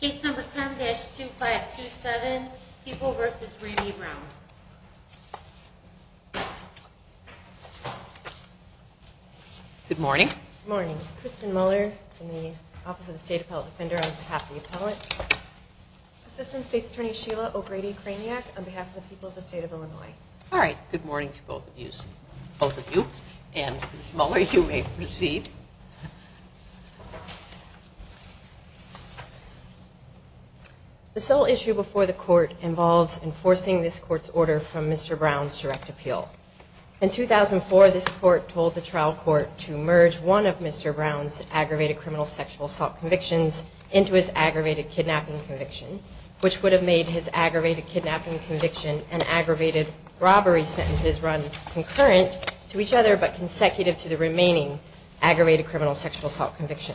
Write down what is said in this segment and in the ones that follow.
Case number 10-2527, People v. Randy Brown. Good morning. Good morning. Kristen Muller from the Office of the State Appellate Defender on behalf of the appellate. Assistant State's Attorney Sheila O'Grady-Kraniak on behalf of the people of the state of Illinois. All right. Good morning to both of you. And Ms. Muller, you may proceed. The sole issue before the court involves enforcing this court's order from Mr. Brown's direct appeal. In 2004, this court told the trial court to merge one of Mr. Brown's aggravated criminal sexual assault convictions into his aggravated kidnapping conviction, which would have made his aggravated kidnapping conviction and aggravated robbery sentences run concurrent to each other, but consecutive to the remaining aggravated criminal sexual assault conviction.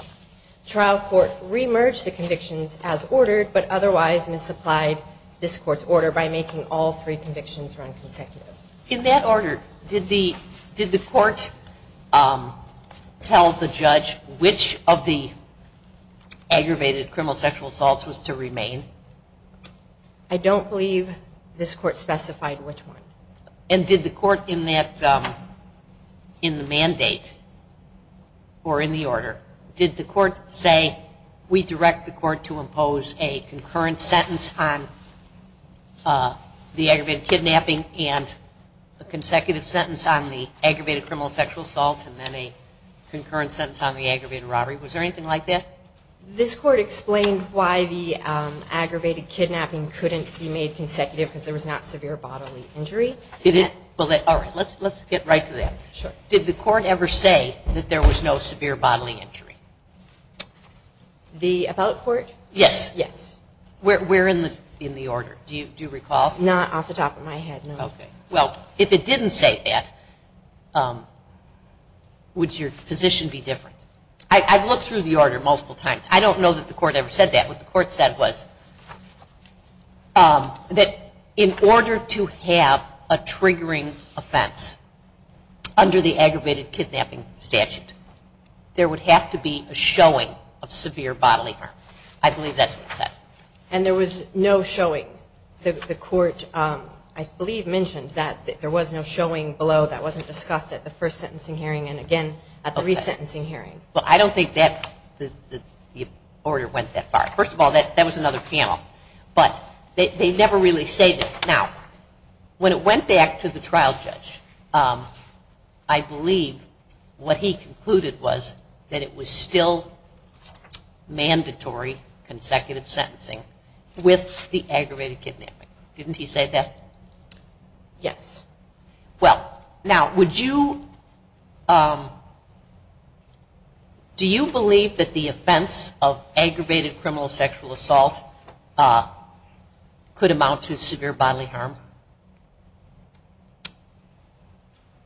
Trial court re-merged the convictions as ordered, but otherwise misapplied this court's order by making all three convictions run consecutive. In that order, did the court tell the judge which of the aggravated criminal sexual assaults was to remain? I don't believe this court specified which one. And did the court in that, in the mandate or in the order, did the court say we direct the court to impose a concurrent sentence on the aggravated kidnapping and a consecutive sentence on the aggravated criminal sexual assault and then a concurrent sentence on the aggravated robbery? Was there anything like that? This court explained why the aggravated kidnapping couldn't be made consecutive because there was not severe bodily injury. All right, let's get right to that. Did the court ever say that there was no severe bodily injury? The about court? Yes. Yes. Where in the order? Do you recall? Not off the top of my head, no. Okay. Well, if it didn't say that, would your position be different? I've looked through the order multiple times. I don't know that the court ever said that. What the court said was that in order to have a triggering offense under the aggravated kidnapping statute, there would have to be a showing of severe bodily harm. I believe that's what it said. And there was no showing. The court, I believe, mentioned that there was no showing below that wasn't discussed at the first sentencing hearing and again at the resentencing hearing. Well, I don't think that the order went that far. First of all, that was another panel. But they never really say that. Now, when it went back to the trial judge, I believe what he concluded was that it was still mandatory consecutive sentencing with the aggravated kidnapping. Didn't he say that? Yes. Well, now, would you, do you believe that the offense of aggravated criminal sexual assault could amount to severe bodily harm?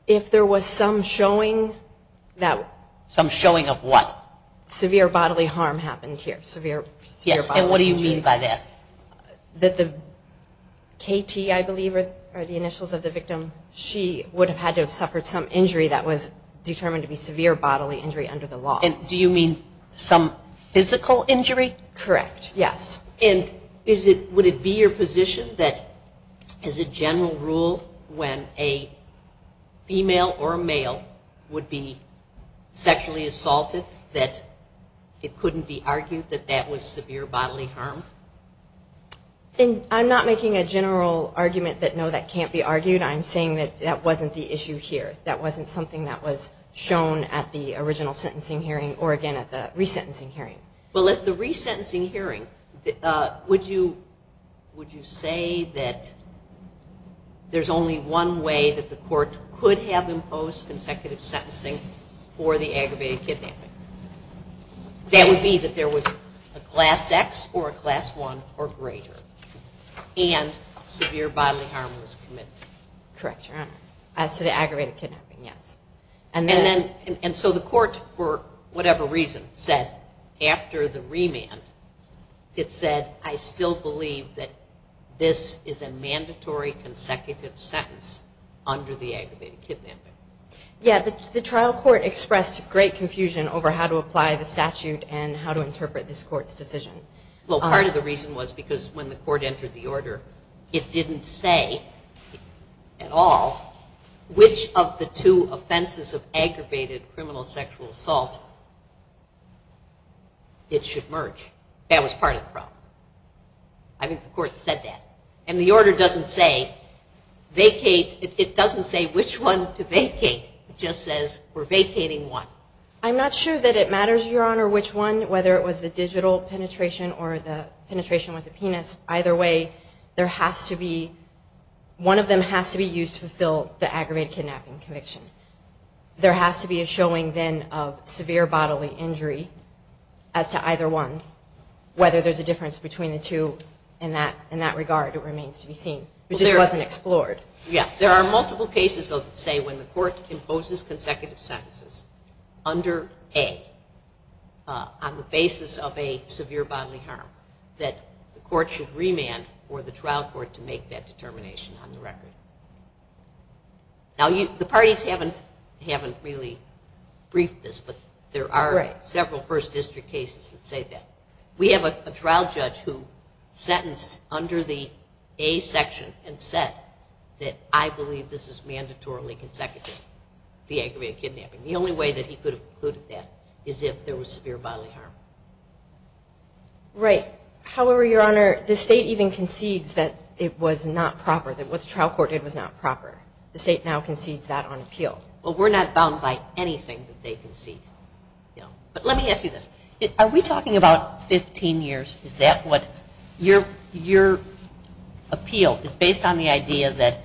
If there was some showing. Some showing of what? Severe bodily harm happened here. Yes, and what do you mean by that? That the KT, I believe, are the initials of the victim. She would have had to have suffered some injury that was determined to be severe bodily injury under the law. And do you mean some physical injury? Correct. Yes. And is it, would it be your position that as a general rule when a female or a male would be sexually assaulted that it couldn't be argued that that was severe bodily harm? I'm not making a general argument that no, that can't be argued. I'm saying that that wasn't the issue here. That wasn't something that was shown at the original sentencing hearing or again at the resentencing hearing. Well, at the resentencing hearing, would you say that there's only one way that the court could have imposed consecutive sentencing for the aggravated kidnapping? That would be that there was a Class X or a Class I or greater and severe bodily harm was committed. Correct, Your Honor. So the aggravated kidnapping, yes. And so the court, for whatever reason, said after the remand, it said, I still believe that this is a mandatory consecutive sentence under the aggravated kidnapping. Yeah, the trial court expressed great confusion over how to apply the statute and how to interpret this court's decision. Well, part of the reason was because when the court entered the order, it didn't say at all which of the two offenses of aggravated criminal sexual assault it should merge. That was part of the problem. I think the court said that. And the order doesn't say vacate, it doesn't say which one to vacate. It just says we're vacating one. I'm not sure that it matters, Your Honor, which one, whether it was the digital penetration or the penetration with the penis. Either way, one of them has to be used to fulfill the aggravated kidnapping conviction. There has to be a showing then of severe bodily injury as to either one, whether there's a difference between the two. In that regard, it remains to be seen. It just wasn't explored. Yeah, there are multiple cases, though, that say when the court imposes consecutive sentences under A on the basis of a severe bodily harm, that the court should remand for the trial court to make that determination on the record. Now, the parties haven't really briefed this, but there are several first district cases that say that. We have a trial judge who sentenced under the A section and said that I believe this is mandatorily consecutive, the aggravated kidnapping. The only way that he could have concluded that is if there was severe bodily harm. Right. However, Your Honor, the state even concedes that it was not proper, that what the trial court did was not proper. The state now concedes that on appeal. Well, we're not bound by anything that they concede. But let me ask you this. Are we talking about 15 years? Is that what your appeal is based on, the idea that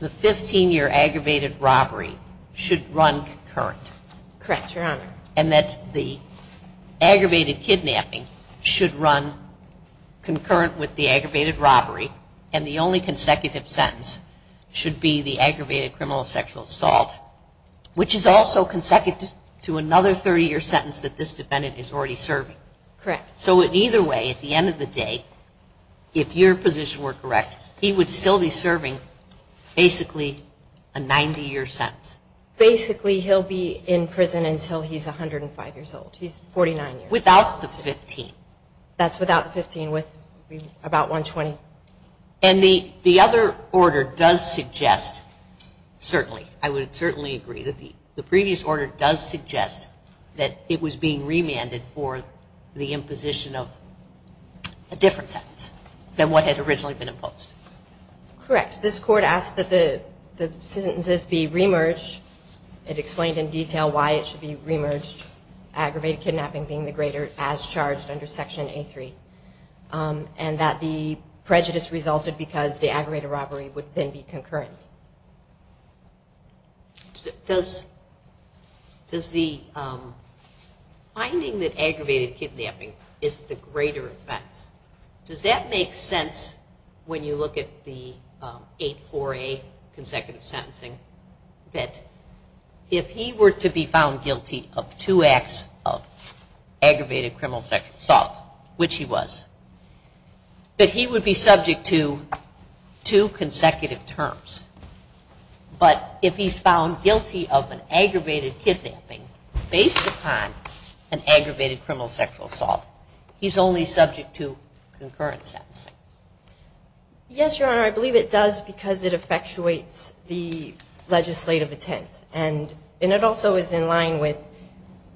the 15-year aggravated robbery should run concurrent? Correct, Your Honor. And that the aggravated kidnapping should run concurrent with the aggravated robbery, and the only consecutive sentence should be the aggravated criminal sexual assault, which is also consecutive to another 30-year sentence that this defendant is already serving. Correct. So either way, at the end of the day, if your position were correct, he would still be serving basically a 90-year sentence. Basically, he'll be in prison until he's 105 years old. He's 49 years old. Without the 15. That's without the 15, with about 120. And the other order does suggest, certainly, I would certainly agree, that the previous order does suggest that it was being remanded for the imposition of a different sentence than what had originally been imposed. Correct. This court asked that the sentences be re-merged. It explained in detail why it should be re-merged, aggravated kidnapping being the greater as charged under Section A3, and that the prejudice resulted because the aggravated robbery would then be concurrent. Does the finding that aggravated kidnapping is the greater offense, does that make sense when you look at the 8-4-A consecutive sentencing, that if he were to be found guilty of two acts of aggravated criminal sexual assault, which he was, that he would be subject to two consecutive terms? But if he's found guilty of an aggravated kidnapping based upon an aggravated criminal sexual assault, he's only subject to concurrent sentencing? Yes, Your Honor, I believe it does because it effectuates the legislative intent. And it also is in line with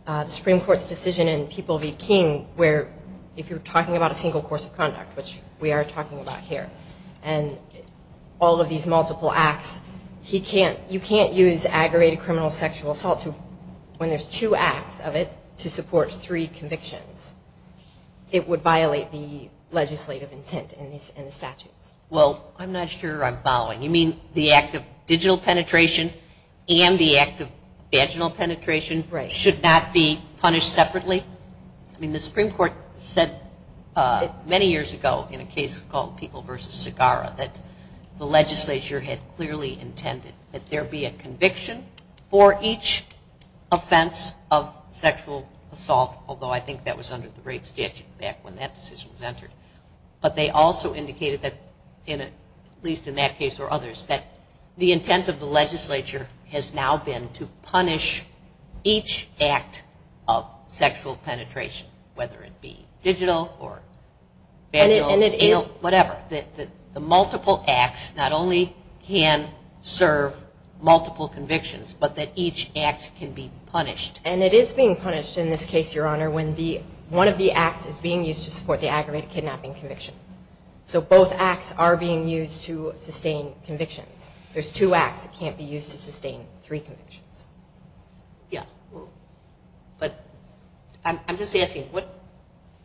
the Supreme Court's decision in People v. King, where if you're talking about a single course of conduct, which we are talking about here, and all of these multiple acts, you can't use aggravated criminal sexual assault when there's two acts of it to support three convictions. It would violate the legislative intent in the statutes. Well, I'm not sure I'm following. You mean the act of digital penetration and the act of vaginal penetration should not be punished separately? I mean, the Supreme Court said many years ago in a case called People v. Segarra that the legislature had clearly intended that there be a conviction for each offense of sexual assault, although I think that was under the rape statute back when that decision was entered. But they also indicated that, at least in that case or others, that the intent of the legislature has now been to punish each act of sexual penetration, whether it be digital or vaginal, you know, whatever. The multiple acts not only can serve multiple convictions, but that each act can be punished. And it is being punished in this case, Your Honor, when one of the acts is being used to support the aggravated kidnapping conviction. So both acts are being used to sustain convictions. There's two acts that can't be used to sustain three convictions. Yeah. But I'm just asking, what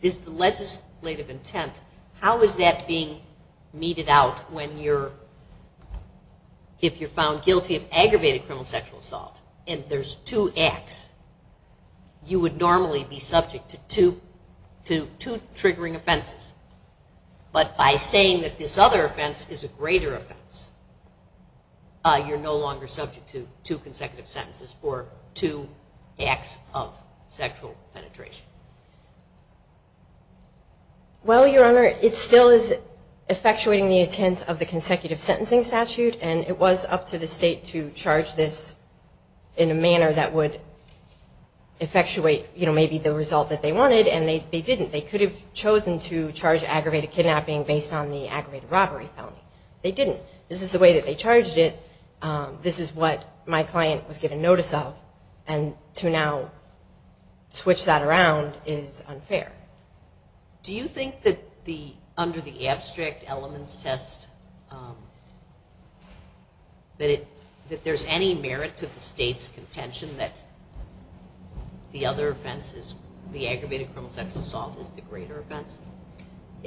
is the legislative intent? How is that being meted out when you're, if you're found guilty of aggravated criminal sexual assault and there's two acts, you would normally be subject to two triggering offenses. But by saying that this other offense is a greater offense, you're no longer subject to two consecutive sentences for two acts of sexual penetration. Well, Your Honor, it still is effectuating the intent of the consecutive sentencing statute, and it was up to the state to charge this in a manner that would effectuate, you know, maybe the result that they wanted, and they didn't. They could have chosen to charge aggravated kidnapping based on the aggravated robbery felony. They didn't. This is the way that they charged it. This is what my client was given notice of. And to now switch that around is unfair. Do you think that under the abstract elements test, that there's any merit to the state's contention that the other offense, the aggravated criminal sexual assault, is the greater offense?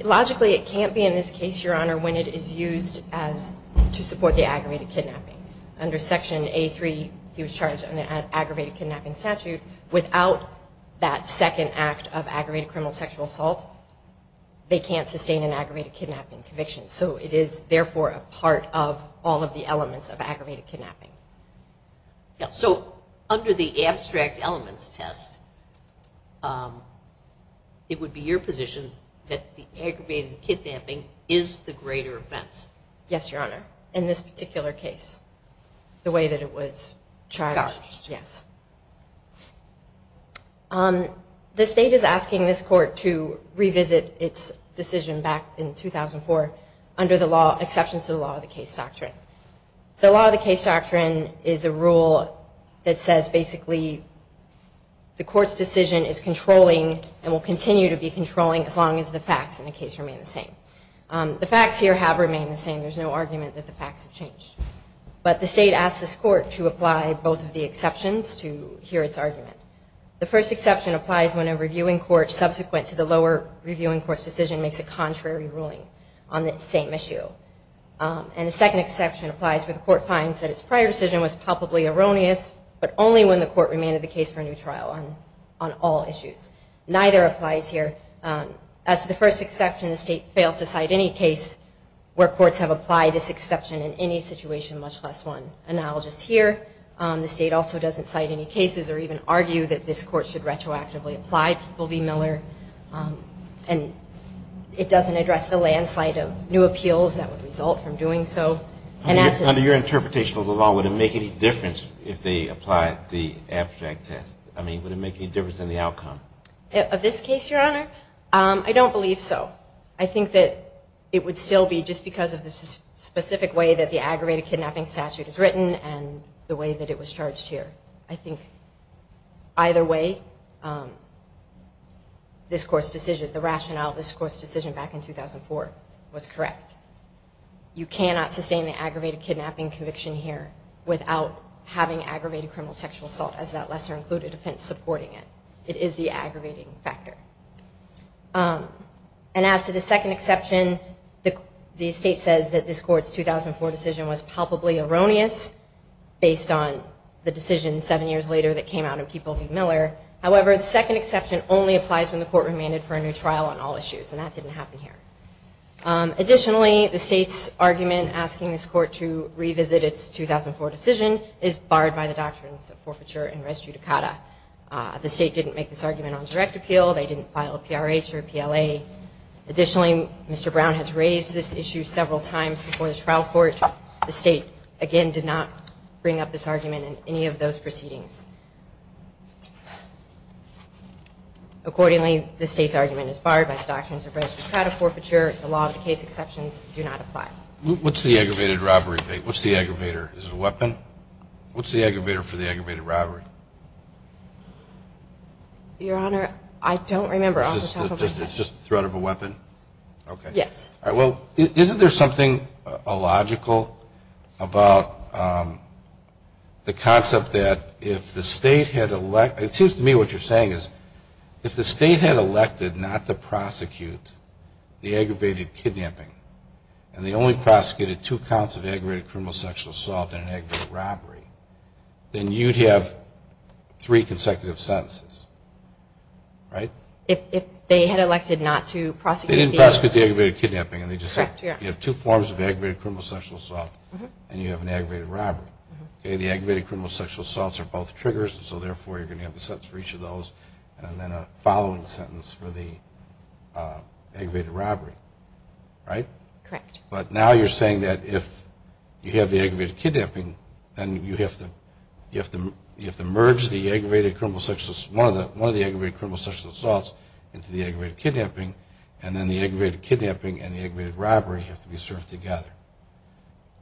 Logically, it can't be in this case, Your Honor, when it is used to support the aggravated kidnapping. Under Section A3, he was charged under the aggravated kidnapping statute without that second act of aggravated criminal sexual assault, they can't sustain an aggravated kidnapping conviction. So it is, therefore, a part of all of the elements of aggravated kidnapping. So under the abstract elements test, it would be your position that the aggravated kidnapping is the greater offense? Yes, Your Honor, in this particular case, the way that it was charged. Yes. The state is asking this court to revisit its decision back in 2004 under the exceptions to the law of the case doctrine. The law of the case doctrine is a rule that says basically the court's decision is controlling and will continue to be controlling as long as the facts in the case remain the same. The facts here have remained the same. There's no argument that the facts have changed. But the state asked this court to apply both of the exceptions to hear its argument. The first exception applies when a reviewing court subsequent to the lower reviewing court's decision makes a contrary ruling on the same issue. And the second exception applies when the court finds that its prior decision was palpably erroneous, but only when the court remained the case for a new trial on all issues. Neither applies here. As to the first exception, the state fails to cite any case where courts have applied this exception in any situation, much less one. And I'll just here, the state also doesn't cite any cases or even argue that this court should retroactively apply. People v. Miller. And it doesn't address the landslide of new appeals that would result from doing so. Under your interpretation of the law, would it make any difference if they applied the abstract test? I mean, would it make any difference in the outcome? Of this case, Your Honor, I don't believe so. I think that it would still be just because of the specific way that the aggravated kidnapping statute is written and the way that it was charged here. I think either way, this court's decision, the rationale of this court's decision back in 2004 was correct. You cannot sustain the aggravated kidnapping conviction here without having aggravated criminal sexual assault as that lesser included offense supporting it. It is the aggravating factor. And as to the second exception, the state says that this court's 2004 decision was palpably erroneous based on the decision seven years later that came out of people v. Miller. However, the second exception only applies when the court remained for a new trial on all issues. And that didn't happen here. Additionally, the state's argument asking this court to revisit its 2004 decision is barred by the doctrines of forfeiture and res judicata. The state didn't make this argument on direct appeal. They didn't file a PRH or a PLA. Additionally, Mr. Brown has raised this issue several times before the trial court. The state, again, did not bring up this argument in any of those proceedings. Accordingly, the state's argument is barred by the doctrines of res judicata, forfeiture. The law of the case exceptions do not apply. What's the aggravated robbery? What's the aggravator? Is it a weapon? What's the aggravator for the aggravated robbery? Your Honor, I don't remember off the top of my head. It's just the threat of a weapon? Okay. Yes. All right. Well, isn't there something illogical about the concept that if the state had it seems to me what you're saying is if the state had elected not to prosecute the aggravated kidnapping and they only prosecuted two counts of aggravated criminal sexual assault and an aggravated robbery, then you'd have three consecutive sentences, right? If they had elected not to prosecute the aggravated kidnapping. They didn't prosecute the aggravated kidnapping. Correct. You have two forms of aggravated criminal sexual assault and you have an aggravated robbery. The aggravated criminal sexual assaults are both triggers, so therefore you're going to have the sentence for each of those and then a following sentence for the aggravated robbery, right? Correct. But now you're saying that if you have the aggravated kidnapping, then you have to merge one of the aggravated criminal sexual assaults into the aggravated kidnapping and then the aggravated kidnapping and the aggravated robbery have to be served together.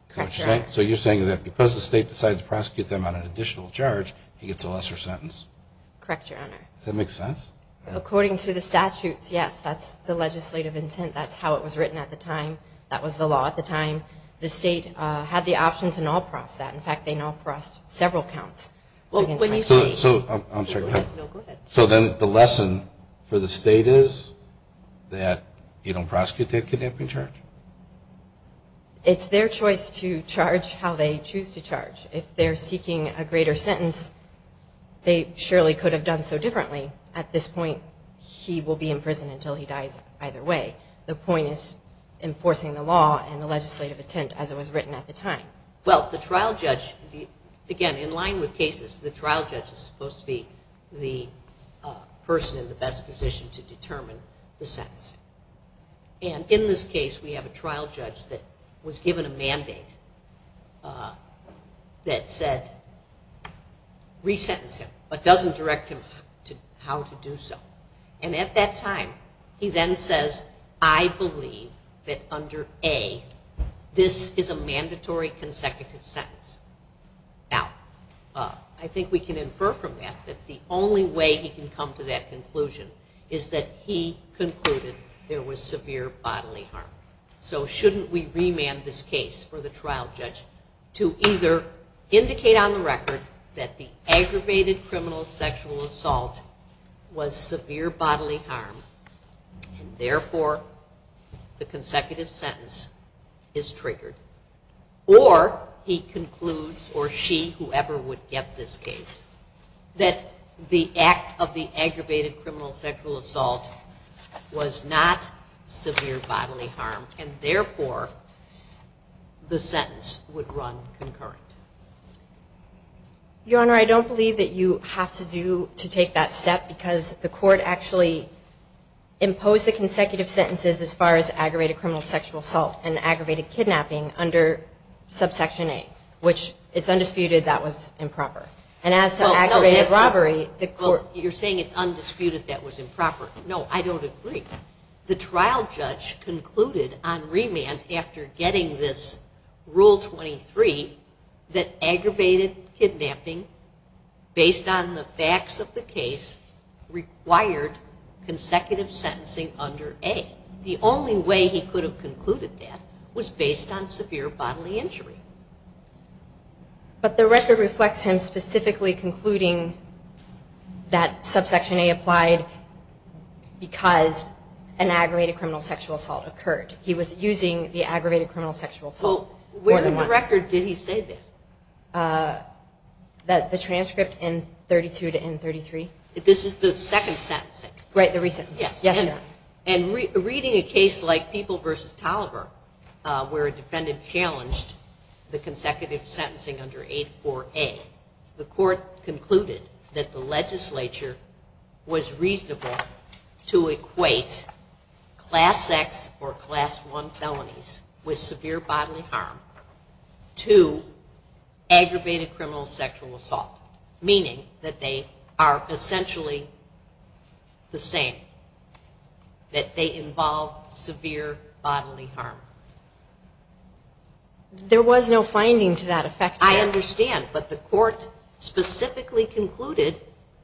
Correct, Your Honor. So you're saying that because the state decided to prosecute them on an additional charge, he gets a lesser sentence? Correct, Your Honor. Does that make sense? According to the statutes, yes, that's the legislative intent. That's how it was written at the time. That was the law at the time. The state had the option to null-prost that. In fact, they null-prost several counts. So then the lesson for the state is that you don't prosecute the kidnapping charge? It's their choice to charge how they choose to charge. If they're seeking a greater sentence, they surely could have done so differently. At this point, he will be in prison until he dies either way. The point is enforcing the law and the legislative intent as it was written at the time. Well, the trial judge, again, in line with cases, the trial judge is supposed to be the person in the best position to determine the sentence. And in this case, we have a trial judge that was given a mandate that said resentence him but doesn't direct him how to do so. And at that time, he then says, I believe that under A, this is a mandatory consecutive sentence. Now, I think we can infer from that that the only way he can come to that conclusion is that he concluded there was severe bodily harm. So shouldn't we remand this case for the trial judge to either indicate on the record that the aggravated criminal sexual assault was severe bodily harm and therefore the consecutive sentence is triggered? Or he concludes, or she, whoever, would get this case, that the act of the aggravated criminal sexual assault was not severe bodily harm and therefore the sentence would run concurrent? Your Honor, I don't believe that you have to take that step because the court actually imposed the consecutive sentences as far as aggravated criminal sexual assault and aggravated kidnapping under subsection A, which it's undisputed that was improper. And as to aggravated robbery, the court... Well, you're saying it's undisputed that was improper. No, I don't agree. The trial judge concluded on remand after getting this Rule 23 that aggravated kidnapping based on the facts of the case required consecutive sentencing under A. The only way he could have concluded that was based on severe bodily injury. But the record reflects him specifically concluding that subsection A applied because an aggravated criminal sexual assault occurred. He was using the aggravated criminal sexual assault more than once. Well, where in the record did he say this? The transcript in 32 to N33. This is the second sentencing. Right, the re-sentencing. Yes. And reading a case like People v. Tolliver, where a defendant challenged the consecutive sentencing under 84A, the court concluded that the legislature was reasonable to equate Class X or Class I felonies with severe bodily harm to aggravated criminal sexual assault, meaning that they are essentially the same, that they involve severe bodily harm. There was no finding to that effect. I understand, but the court specifically concluded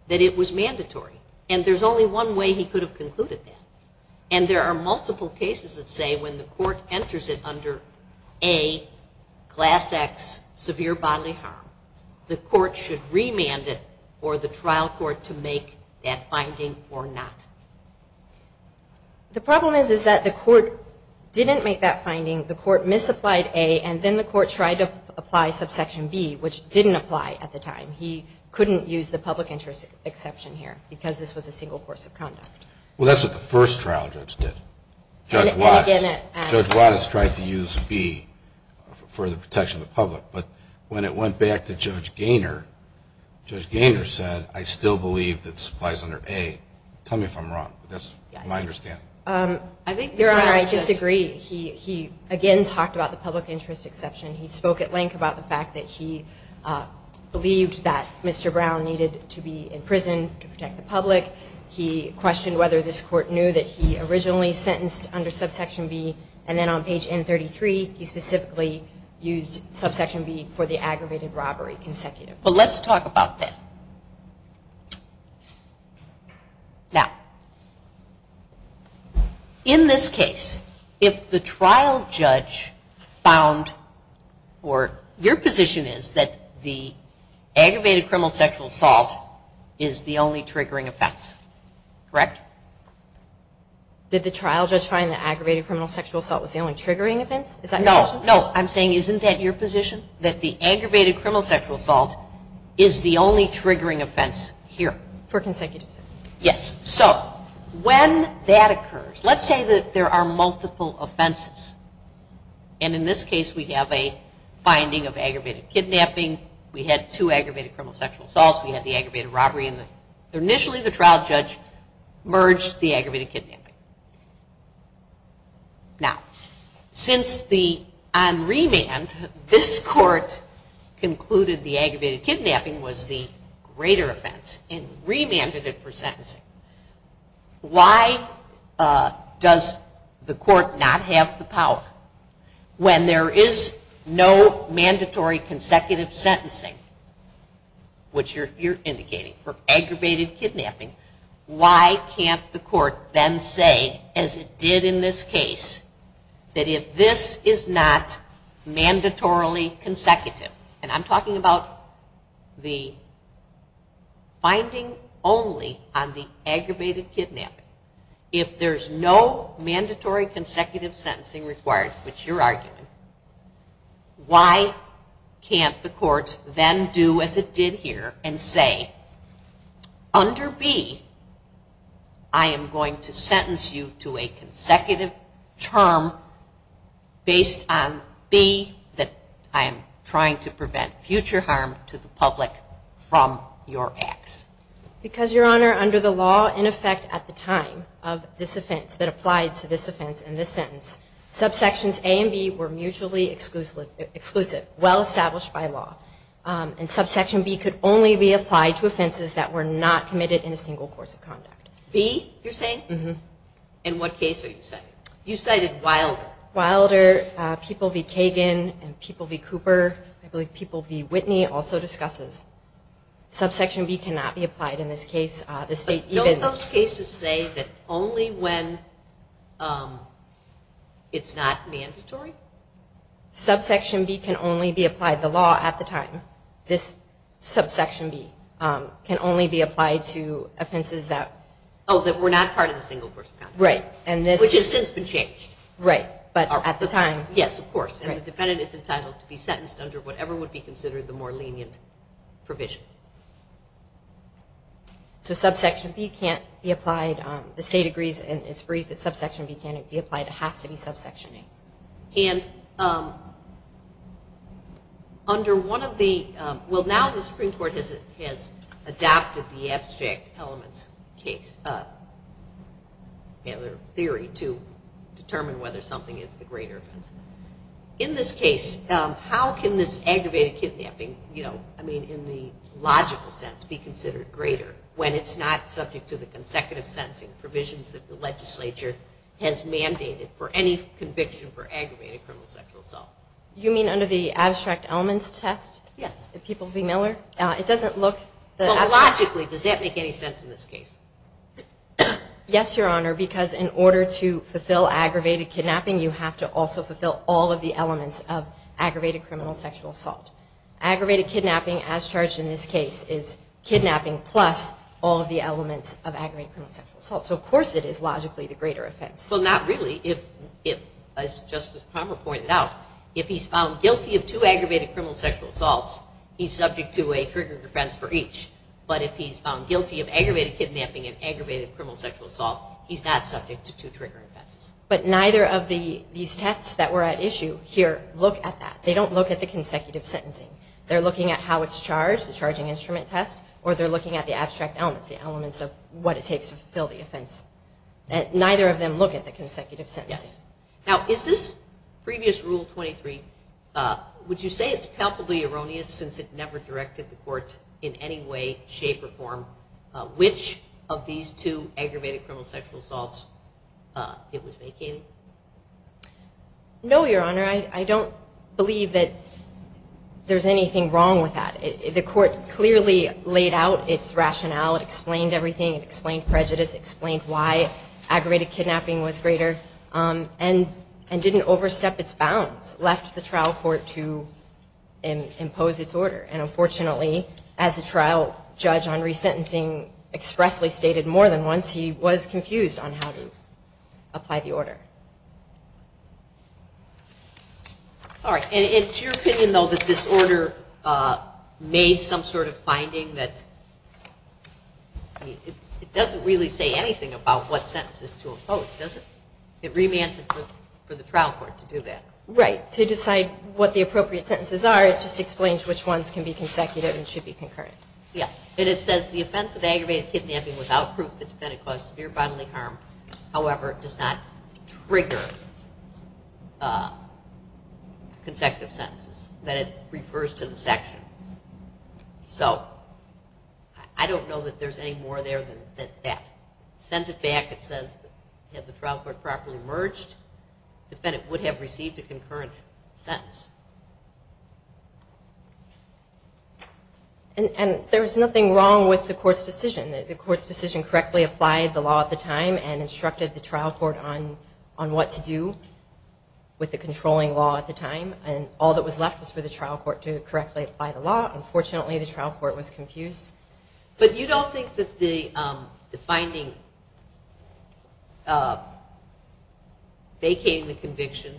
that it was mandatory, and there's only one way he could have concluded that. And there are multiple cases that say when the court enters it under A, Class X, severe bodily harm, the court should remand it for the trial court to make that finding or not. The court misapplied A, and then the court tried to apply subsection B, which didn't apply at the time. He couldn't use the public interest exception here because this was a single course of conduct. Well, that's what the first trial judge did, Judge Watts. Judge Watts tried to use B for the protection of the public. But when it went back to Judge Gaynor, Judge Gaynor said, I still believe that this applies under A. That's my understanding. Your Honor, I disagree. He, again, talked about the public interest exception. He spoke at length about the fact that he believed that Mr. Brown needed to be in prison to protect the public. He questioned whether this court knew that he originally sentenced under subsection B. And then on page N33, he specifically used subsection B for the aggravated robbery consecutive. Well, let's talk about that. Now, in this case, if the trial judge found, or your position is that the aggravated criminal sexual assault is the only triggering effects, correct? Did the trial judge find the aggravated criminal sexual assault was the only triggering events? Is that your question? No, no. I'm saying, isn't that your position, that the aggravated criminal sexual assault is the only triggering offense here? For consecutive. Yes. So, when that occurs, let's say that there are multiple offenses. And in this case, we have a finding of aggravated kidnapping. We had two aggravated criminal sexual assaults. We had the aggravated robbery. Initially, the trial judge merged the aggravated kidnapping. Now, since the, on remand, this court concluded the aggravated kidnapping was the greater offense and remanded it for sentencing, why does the court not have the power? When there is no mandatory consecutive sentencing, which you're indicating, for aggravated kidnapping, why can't the court then say, as it did in this case, that if this is not mandatorily consecutive, and I'm talking about the finding only on the aggravated kidnapping, if there's no mandatory consecutive sentencing required, which you're arguing, why can't the court then do, as it did here, and say, under B, I am going to sentence you to a consecutive term based on B that I am trying to prevent future harm to the public from your acts? Because, Your Honor, under the law, in effect, at the time of this offense, that applied to this offense in this sentence, subsections A and B were mutually exclusive, well-established by law. And subsection B could only be applied to offenses that were not committed in a single course of conduct. B, you're saying? Mm-hmm. In what case are you citing? You cited Wilder. Wilder, People v. Kagan, and People v. Cooper, I believe People v. Whitney also discusses, subsection B cannot be applied in this case. Don't those cases say that only when it's not mandatory? Subsection B can only be applied. The law at the time, this subsection B, can only be applied to offenses that were not part of the single course of conduct. Right. Which has since been changed. Right. But at the time. Yes, of course. And the defendant is entitled to be sentenced under whatever would be considered the more lenient provision. So subsection B can't be applied. The state agrees in its brief that subsection B can't be applied. It has to be subsection A. And under one of the ñ well, now the Supreme Court has adopted the abstract elements case, or theory, to determine whether something is the greater offense. In this case, how can this aggravated kidnapping, I mean in the logical sense, be considered greater when it's not subject to the consecutive sentencing provisions that the legislature has mandated for any conviction for aggravated criminal sexual assault? You mean under the abstract elements test? Yes. The people v. Miller? It doesn't look ñ Logically, does that make any sense in this case? Yes, Your Honor, because in order to fulfill aggravated kidnapping, you have to also fulfill all of the elements of aggravated criminal sexual assault. Aggravated kidnapping, as charged in this case, is kidnapping plus all of the elements of aggravated criminal sexual assault. So of course it is logically the greater offense. Well, not really. Just as Palmer pointed out, if he's found guilty of two aggravated criminal sexual assaults, he's subject to a trigger defense for each. But if he's found guilty of aggravated kidnapping and aggravated criminal sexual assault, he's not subject to two trigger offenses. But neither of these tests that were at issue here look at that. They don't look at the consecutive sentencing. They're looking at how it's charged, the charging instrument test, or they're looking at the abstract elements, the elements of what it takes to fulfill the offense. Neither of them look at the consecutive sentencing. Yes. Now, is this previous Rule 23, would you say it's palpably erroneous since it never directed the court in any way, shape, or form, which of these two aggravated criminal sexual assaults it was vacating? No, Your Honor. I don't believe that there's anything wrong with that. The court clearly laid out its rationale. It explained everything. It explained prejudice. It explained why aggravated kidnapping was greater and didn't overstep its bounds, left the trial court to impose its order. And unfortunately, as the trial judge on resentencing expressly stated more than once, he was confused on how to apply the order. All right. And it's your opinion, though, that this order made some sort of finding that it doesn't really say anything about what sentences to impose, does it? It remands it for the trial court to do that. Right. To decide what the appropriate sentences are, it just explains which ones can be consecutive and should be concurrent. Yes. And it says the offense of aggravated kidnapping without proof that the defendant caused severe bodily harm, however, does not trigger consecutive sentences. That it refers to the section. So I don't know that there's any more there than that. It sends it back. It says if the trial court properly merged, the defendant would have received a concurrent sentence. And there was nothing wrong with the court's decision. The court's decision correctly applied the law at the time and instructed the trial court on what to do with the controlling law at the time. And all that was left was for the trial court to correctly apply the law. Unfortunately, the trial court was confused. But you don't think that the finding vacating the conviction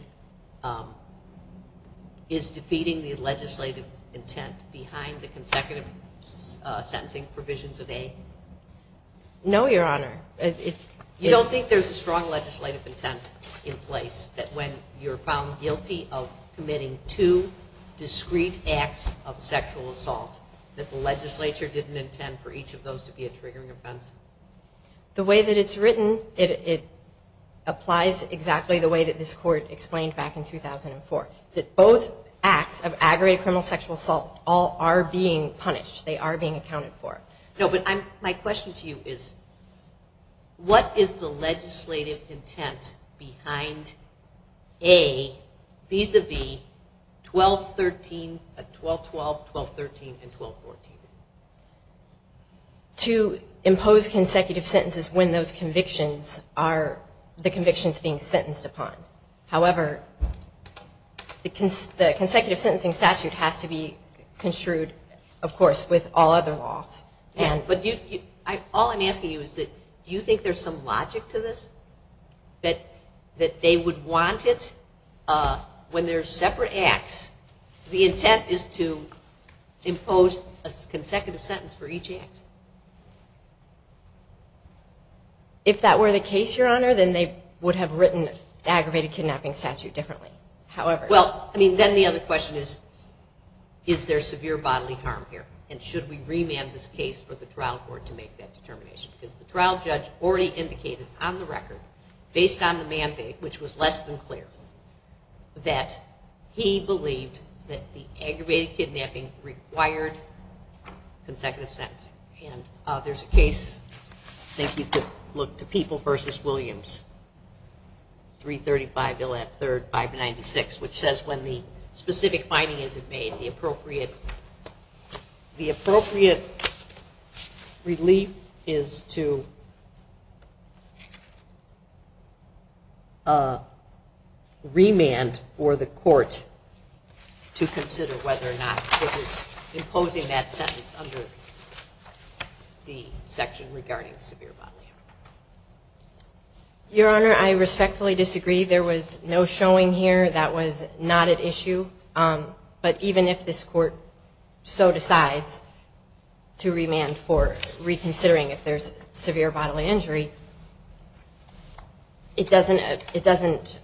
is defeating the legislative intent behind the consecutive sentencing provisions of A? No, Your Honor. You don't think there's a strong legislative intent in place that when you're found guilty of committing two discreet acts of sexual assault, that the legislature didn't intend for each of those to be a triggering offense? The way that it's written, it applies exactly the way that this court explained back in 2004. That both acts of aggravated criminal sexual assault all are being punished. They are being accounted for. No, but my question to you is, what is the legislative intent behind A, vis-a-vis 12-13, 12-12, 12-13, and 12-14? To impose consecutive sentences when those convictions are the convictions being sentenced upon. However, the consecutive sentencing statute has to be construed, of course, with all other laws. Yeah, but all I'm asking you is, do you think there's some logic to this? That they would want it when they're separate acts, the intent is to impose a consecutive sentence for each act? If that were the case, Your Honor, then they would have written the aggravated kidnapping statute differently. Well, then the other question is, is there severe bodily harm here? And should we remand this case for the trial court to make that determination? Because the trial judge already indicated on the record, based on the mandate, which was less than clear, that he believed that the aggravated kidnapping required consecutive sentencing. And there's a case, I think we could look, to People v. Williams, 335 Bill F. 3rd, 596, which says when the specific finding isn't made, the appropriate relief is to remand for the court to consider whether or not it is imposing that sentence under the section regarding severe bodily harm. Your Honor, I respectfully disagree. There was no showing here that was not at issue. But even if this court so decides to remand for reconsidering if there's severe bodily injury, it doesn't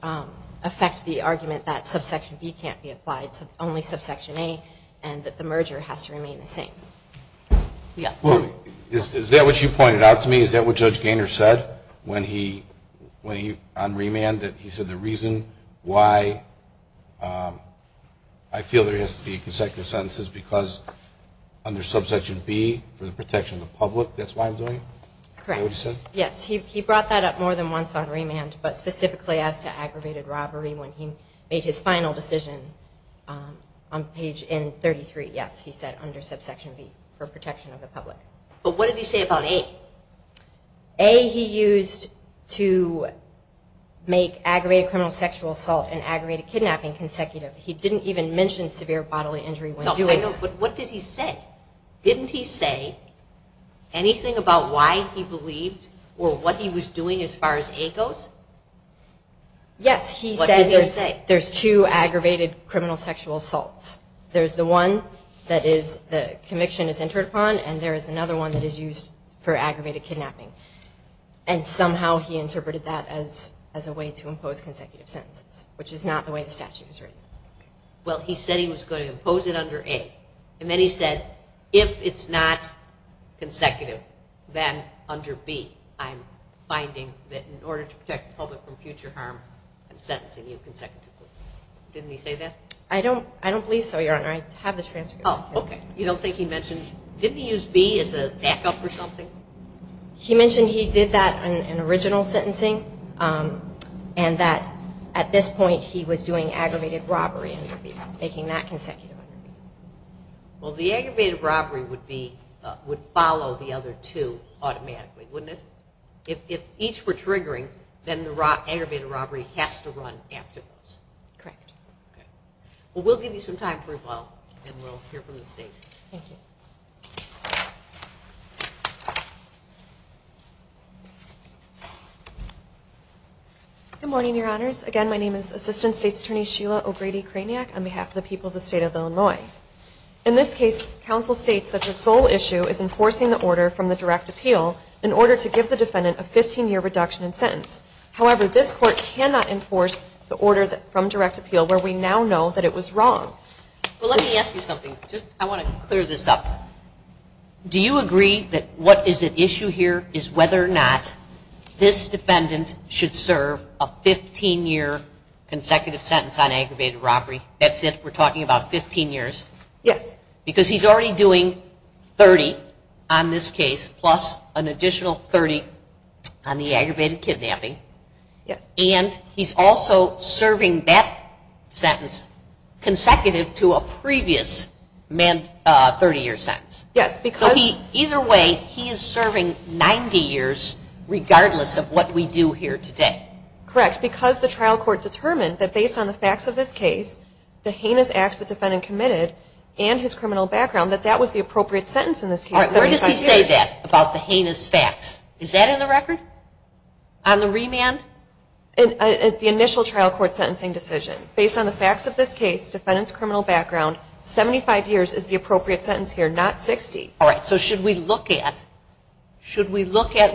affect the argument that subsection B can't be applied, only subsection A, and that the merger has to remain the same. Is that what you pointed out to me? Is that what Judge Gaynor said when he, on remand, that he said the reason why I feel there has to be consecutive sentences is because under subsection B, for the protection of the public, that's why I'm doing it? Correct. Is that what he said? Yes. He brought that up more than once on remand, but specifically as to aggravated robbery when he made his final decision on page N33, yes, he said under subsection B, for protection of the public. But what did he say about A? A he used to make aggravated criminal sexual assault and aggravated kidnapping consecutive. He didn't even mention severe bodily injury when doing that. No, but what did he say? Didn't he say anything about why he believed or what he was doing as far as A goes? Yes, he said there's two aggravated criminal sexual assaults. There's the one that the conviction is entered upon, and there is another one that is used for aggravated kidnapping. And somehow he interpreted that as a way to impose consecutive sentences, which is not the way the statute is written. Well, he said he was going to impose it under A, and then he said if it's not consecutive, then under B, I'm finding that in order to protect the public from future harm, I'm sentencing you consecutively. Didn't he say that? I don't believe so, Your Honor. I have the transcript. Oh, okay. You don't think he mentioned – didn't he use B as a backup or something? He mentioned he did that in original sentencing, and that at this point he was doing aggravated robbery under B, making that consecutive under B. Well, the aggravated robbery would follow the other two automatically, wouldn't it? If each were triggering, then the aggravated robbery has to run after those. Correct. Okay. Well, we'll give you some time for a while, and we'll hear from the State. Thank you. Good morning, Your Honors. Again, my name is Assistant State's Attorney Sheila O'Grady Craniac on behalf of the people of the State of Illinois. In this case, counsel states that the sole issue is enforcing the order from the direct appeal in order to give the defendant a 15-year reduction in sentence. However, this Court cannot enforce the order from direct appeal where we now know that it was wrong. Well, let me ask you something. I want to clear this up. Do you agree that what is at issue here is whether or not this defendant should serve a 15-year consecutive sentence on aggravated robbery? That's it? We're talking about 15 years? Yes. Because he's already doing 30 on this case plus an additional 30 on the aggravated kidnapping. Yes. And he's also serving that sentence consecutive to a previous 30-year sentence. Yes, because? Either way, he is serving 90 years regardless of what we do here today. Correct, because the trial court determined that based on the facts of this case, the heinous acts the defendant committed, and his criminal background, that that was the appropriate sentence in this case, 75 years. All right. Where does he say that about the heinous facts? Is that in the record? On the remand? The initial trial court sentencing decision. Based on the facts of this case, defendant's criminal background, 75 years is the appropriate sentence here, not 60. All right. So should we look at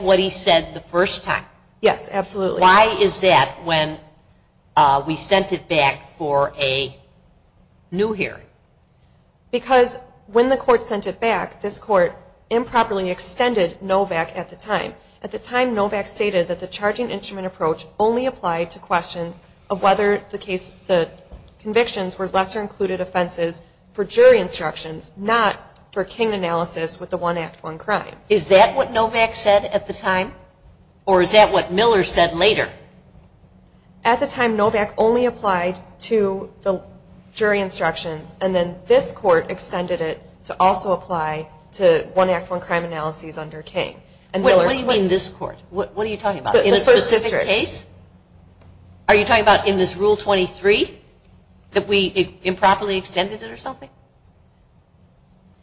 what he said the first time? Yes, absolutely. Why is that when we sent it back for a new hearing? Because when the court sent it back, this court improperly extended Novak at the time. At the time, Novak stated that the charging instrument approach only applied to questions of whether the convictions were lesser included offenses for jury instructions, not for king analysis with the one act, one crime. Is that what Novak said at the time? Or is that what Miller said later? At the time, Novak only applied to the jury instructions, and then this court extended it to also apply to one act, one crime analyses under king. What do you mean this court? What are you talking about? In a specific case? Are you talking about in this Rule 23 that we improperly extended it or something?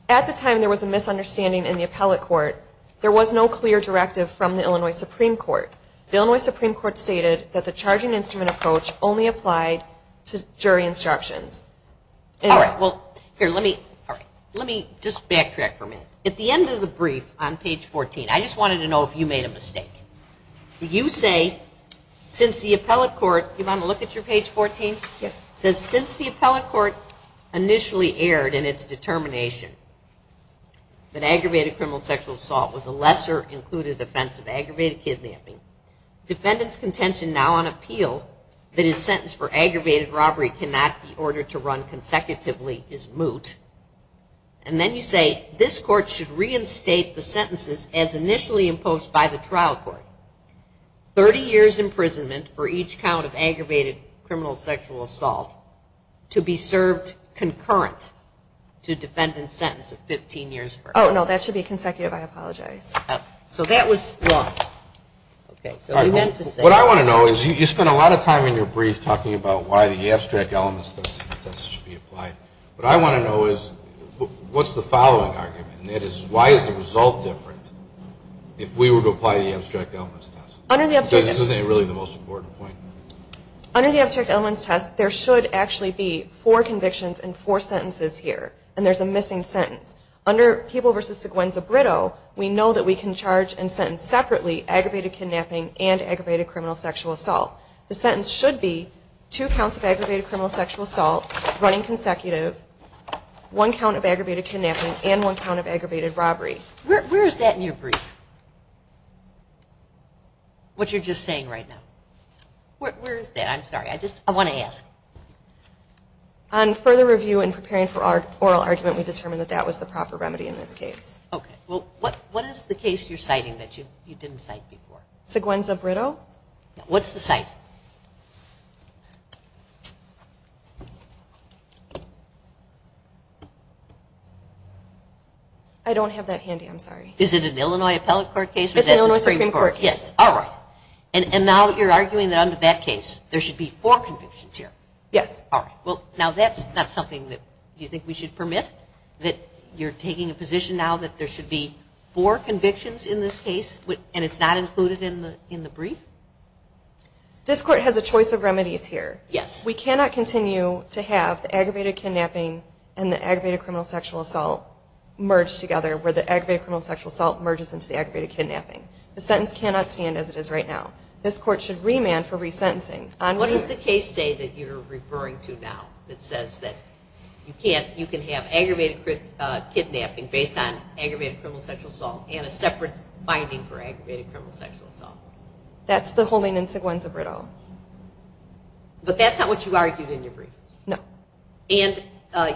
At the time, there was a misunderstanding in the appellate court. There was no clear directive from the Illinois Supreme Court. The Illinois Supreme Court stated that the charging instrument approach only applied to jury instructions. All right. Well, here, let me just backtrack for a minute. At the end of the brief on page 14, I just wanted to know if you made a mistake. You say since the appellate court, do you want to look at your page 14? Yes. It says since the appellate court initially erred in its determination that aggravated criminal sexual assault was a lesser included offense of aggravated kidnapping, defendant's contention now on appeal that his sentence for aggravated robbery cannot be ordered to run consecutively is moot, and then you say this court should reinstate the sentences as initially imposed by the trial court. 30 years imprisonment for each count of aggravated criminal sexual assault to be served concurrent to defendant's sentence of 15 years. Oh, no. That should be consecutive. I apologize. So that was wrong. Okay. What I want to know is you spent a lot of time in your brief talking about why the abstract elements should be applied. What I want to know is what's the following argument, and that is why is the result different if we were to apply the abstract elements test? This isn't really the most important point. Under the abstract elements test, there should actually be four convictions and four sentences here, and there's a missing sentence. Under People v. Seguenza-Britto, we know that we can charge and sentence separately aggravated kidnapping and aggravated criminal sexual assault. The sentence should be two counts of aggravated criminal sexual assault running consecutive, one count of aggravated kidnapping and one count of aggravated robbery. Where is that in your brief, what you're just saying right now? Where is that? I'm sorry. I just want to ask. On further review and preparing for oral argument, we determined that that was the proper remedy in this case. Okay. Well, what is the case you're citing that you didn't cite before? Seguenza-Britto. What's the cite? I don't have that handy. I'm sorry. Is it an Illinois Appellate Court case? It's an Illinois Supreme Court case. All right. And now you're arguing that under that case, there should be four convictions here? Yes. All right. Well, now that's not something that you think we should permit, that you're taking a position now that there should be four convictions in this case and it's not included in the brief? This court has a choice of remedies here. Yes. We cannot continue to have the aggravated kidnapping and the aggravated criminal sexual assault merged together where the aggravated criminal sexual assault merges into the aggravated kidnapping. The sentence cannot stand as it is right now. This court should remand for resentencing. What does the case say that you're referring to now that says that you can have aggravated kidnapping based on aggravated criminal sexual assault and a separate finding for aggravated criminal sexual assault? That's the holding in Seguenza-Britto. But that's not what you argued in your brief? No. And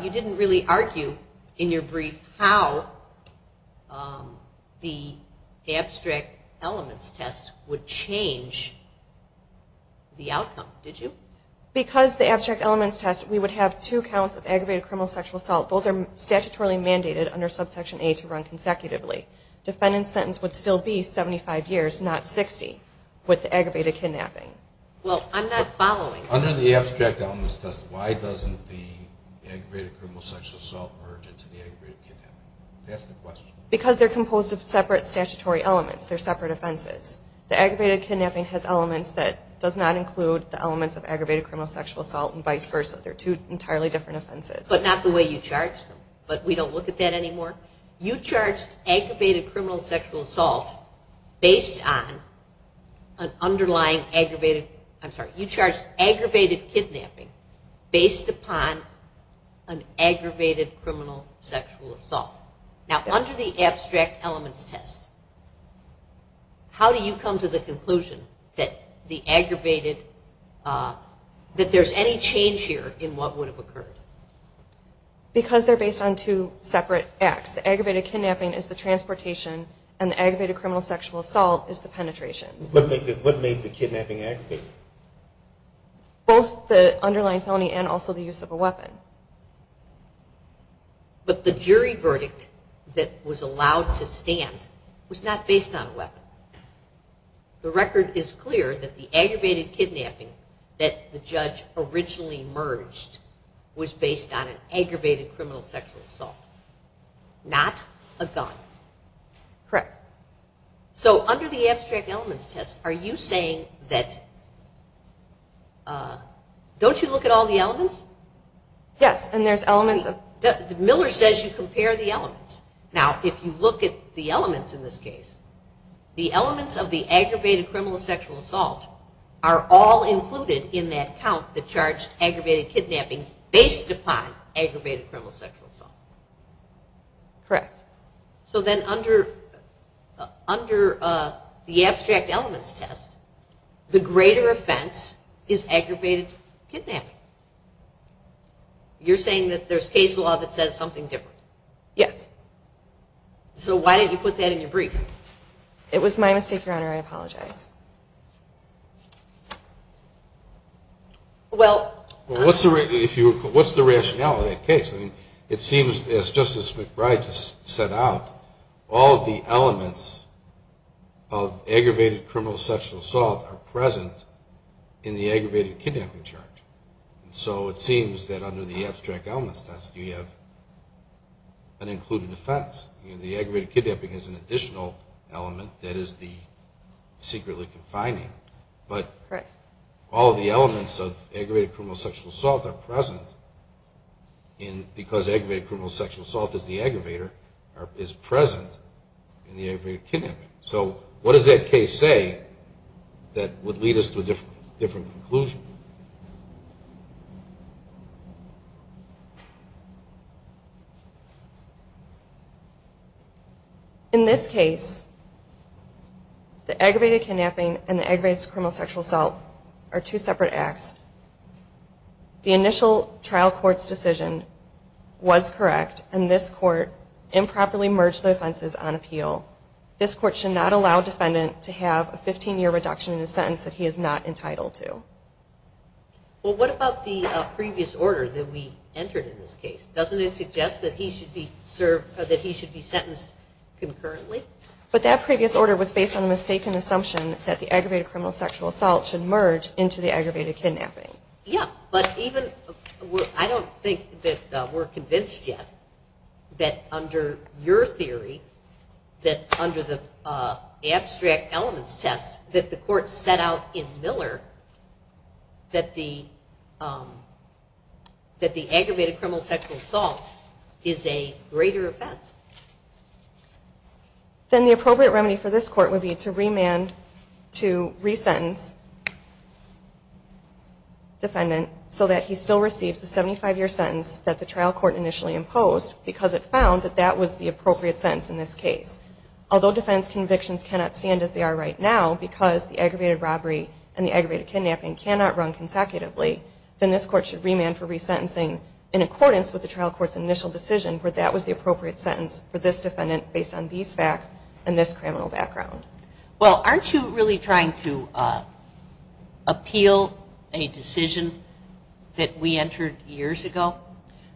you didn't really argue in your brief how the abstract elements test would change the outcome, did you? Because the abstract elements test, we would have two counts of aggravated criminal sexual assault. Those are statutorily mandated under Subsection A to run consecutively. Defendant's sentence would still be 75 years, not 60, with the aggravated kidnapping. Well, I'm not following. Under the abstract elements test, why doesn't the aggravated criminal sexual assault merge into the aggravated kidnapping? That's the question. Because they're composed of separate statutory elements. They're separate offenses. The aggravated kidnapping has elements that does not include the elements of aggravated criminal sexual assault and vice versa. They're two entirely different offenses. But not the way you charged them. But we don't look at that anymore? You charged aggravated kidnapping based upon an aggravated criminal sexual assault. Now, under the abstract elements test, how do you come to the conclusion that there's any change here in what would have occurred? Because they're based on two separate acts. The aggravated kidnapping is the transportation, and the aggravated criminal sexual assault is the penetration. What made the kidnapping aggravated? Both the underlying felony and also the use of a weapon. But the jury verdict that was allowed to stand was not based on a weapon. The record is clear that the aggravated kidnapping that the judge originally merged was based on an aggravated criminal sexual assault, not a gun. Correct. So under the abstract elements test, are you saying that, don't you look at all the elements? Yes, and there's elements. Miller says you compare the elements. Now, if you look at the elements in this case, the elements of the aggravated criminal sexual assault are all included in that count that charged aggravated kidnapping based upon aggravated criminal sexual assault. Correct. So then under the abstract elements test, the greater offense is aggravated kidnapping. You're saying that there's case law that says something different? Yes. So why did you put that in your brief? It was my mistake, Your Honor. I apologize. Well, what's the rationale of that case? It seems, as Justice McBride just set out, all the elements of aggravated criminal sexual assault are present in the aggravated kidnapping charge. So it seems that under the abstract elements test, you have an included offense. The aggravated kidnapping has an additional element, that is the secretly confining. But all of the elements of aggravated criminal sexual assault are present because aggravated criminal sexual assault is present in the aggravated kidnapping. So what does that case say that would lead us to a different conclusion? In this case, the aggravated kidnapping and the aggravated criminal sexual assault are two separate acts. The initial trial court's decision was correct, and this court improperly merged the offenses on appeal. This court should not allow a defendant to have a 15-year reduction in a Well, what about the previous order that we entered in this case? Doesn't it suggest that he should be sentenced concurrently? But that previous order was based on a mistaken assumption that the aggravated criminal sexual assault should merge into the aggravated kidnapping. Yeah, but I don't think that we're convinced yet that under your theory, that the aggravated criminal sexual assault is a greater offense. Then the appropriate remedy for this court would be to remand, to resentence defendant so that he still receives the 75-year sentence that the trial court initially imposed because it found that that was the appropriate sentence in this case. Although defense convictions cannot stand as they are right now because the aggravated kidnapping cannot run consecutively, then this court should remand for resentencing in accordance with the trial court's initial decision where that was the appropriate sentence for this defendant based on these facts and this criminal background. Well, aren't you really trying to appeal a decision that we entered years ago?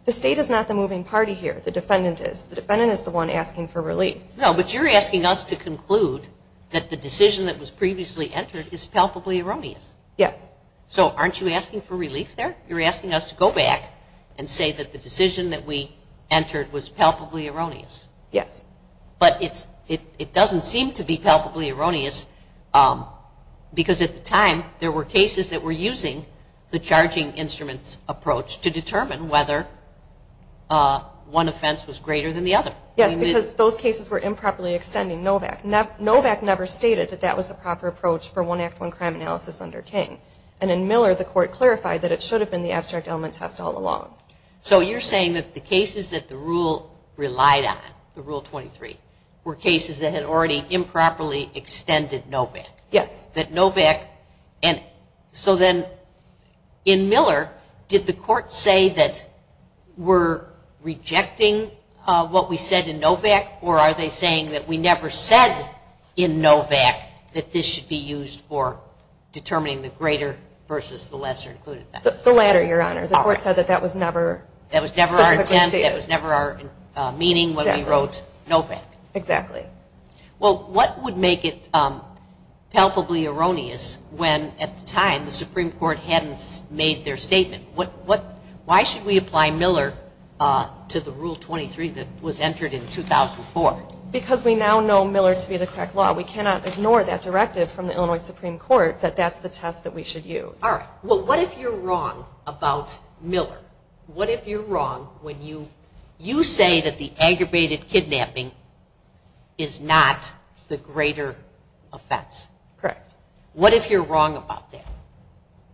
The State is not the moving party here. The defendant is. The defendant is the one asking for relief. No, but you're asking us to conclude that the decision that was previously entered is palpably erroneous. Yes. So aren't you asking for relief there? You're asking us to go back and say that the decision that we entered was palpably erroneous. Yes. But it doesn't seem to be palpably erroneous because at the time there were cases that were using the charging instruments approach to determine Yes, because those cases were improperly extending. Novak never stated that that was the proper approach for one act, one crime analysis under King. And in Miller, the court clarified that it should have been the abstract element test all along. So you're saying that the cases that the rule relied on, the Rule 23, were cases that had already improperly extended Novak. Yes. That Novak. So then in Miller, did the court say that we're rejecting what we said in Novak, that this should be used for determining the greater versus the lesser? The latter, Your Honor. The court said that that was never our intent, that was never our meaning when we wrote Novak. Exactly. Well, what would make it palpably erroneous when at the time the Supreme Court hadn't made their statement? Why should we apply Miller to the Rule 23 that was entered in 2004? Because we now know Miller to be the correct law, we cannot ignore that directive from the Illinois Supreme Court that that's the test that we should use. All right. Well, what if you're wrong about Miller? What if you're wrong when you say that the aggravated kidnapping is not the greater offense? Correct. What if you're wrong about that?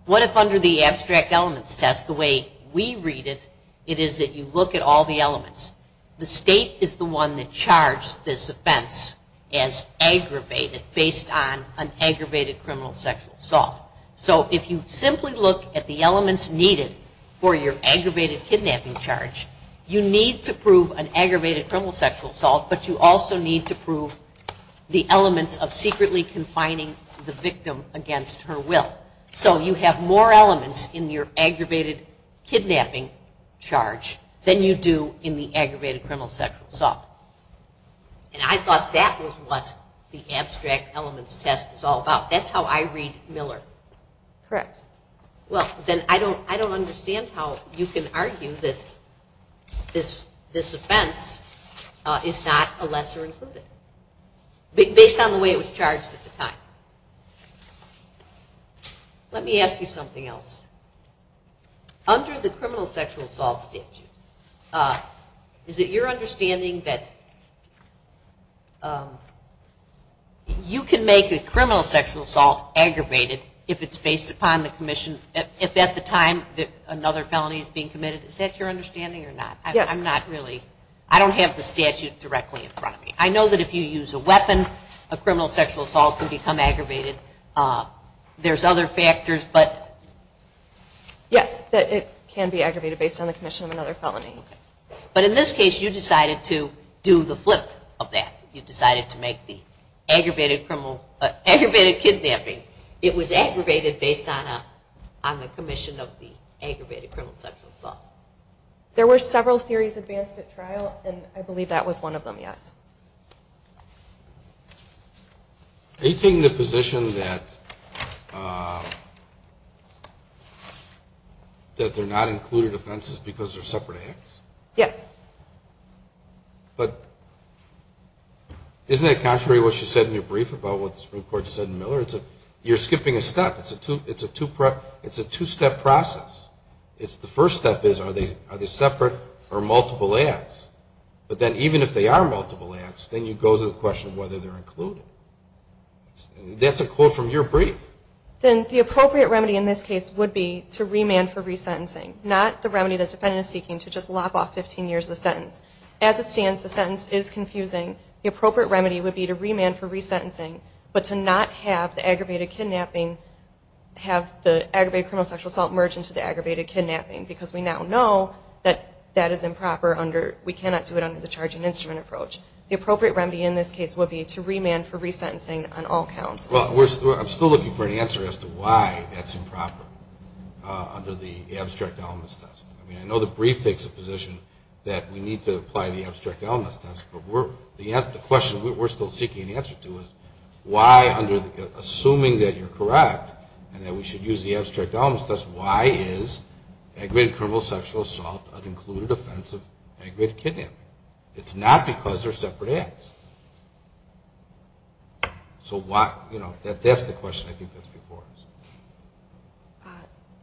What if under the abstract elements test, the way we read it, it is that you look at all the elements. The state is the one that charged this offense as aggravated based on an aggravated criminal sexual assault. So if you simply look at the elements needed for your aggravated kidnapping charge, you need to prove an aggravated criminal sexual assault, but you also need to prove the elements of secretly confining the victim against her will. So you have more elements in your aggravated kidnapping charge than you do in the aggravated criminal sexual assault. And I thought that was what the abstract elements test is all about. That's how I read Miller. Correct. Well, then I don't understand how you can argue that this offense is not a lesser included based on the way it was charged at the time. Let me ask you something else. Under the criminal sexual assault statute, is it your understanding that you can make a criminal sexual assault aggravated if it's based upon the commission, if at the time another felony is being committed? Is that your understanding or not? Yes. I don't have the statute directly in front of me. I know that if you use a weapon, a criminal sexual assault can become aggravated. There's other factors. Yes, it can be aggravated based on the commission of another felony. But in this case, you decided to do the flip of that. You decided to make the aggravated kidnapping. It was aggravated based on the commission of the aggravated criminal sexual assault. There were several theories advanced at trial, and I believe that was one of them, yes. Are you taking the position that they're not included offenses because they're separate acts? Yes. But isn't that contrary to what you said in your brief about what the Supreme Court said in Miller? You're skipping a step. It's a two-step process. The first step is are they separate or multiple acts? But then even if they are multiple acts, then you go to the question of whether they're included. That's a quote from your brief. Then the appropriate remedy in this case would be to remand for resentencing, not the remedy the defendant is seeking, to just lop off 15 years of the sentence. As it stands, the sentence is confusing. The appropriate remedy would be to remand for resentencing, but to not have the aggravated kidnapping have the aggravated criminal sexual assault merge into the aggravated kidnapping, because we now know that that is improper. We cannot do it under the charge and instrument approach. The appropriate remedy in this case would be to remand for resentencing on all counts. Well, I'm still looking for an answer as to why that's improper under the abstract elements test. I know the brief takes a position that we need to apply the abstract elements test, but the question we're still seeking an answer to is why, assuming that you're correct and that we should use the abstract elements test, why is aggravated criminal sexual assault an included offense of aggravated kidnapping? It's not because they're separate acts. So that's the question I think that's before us.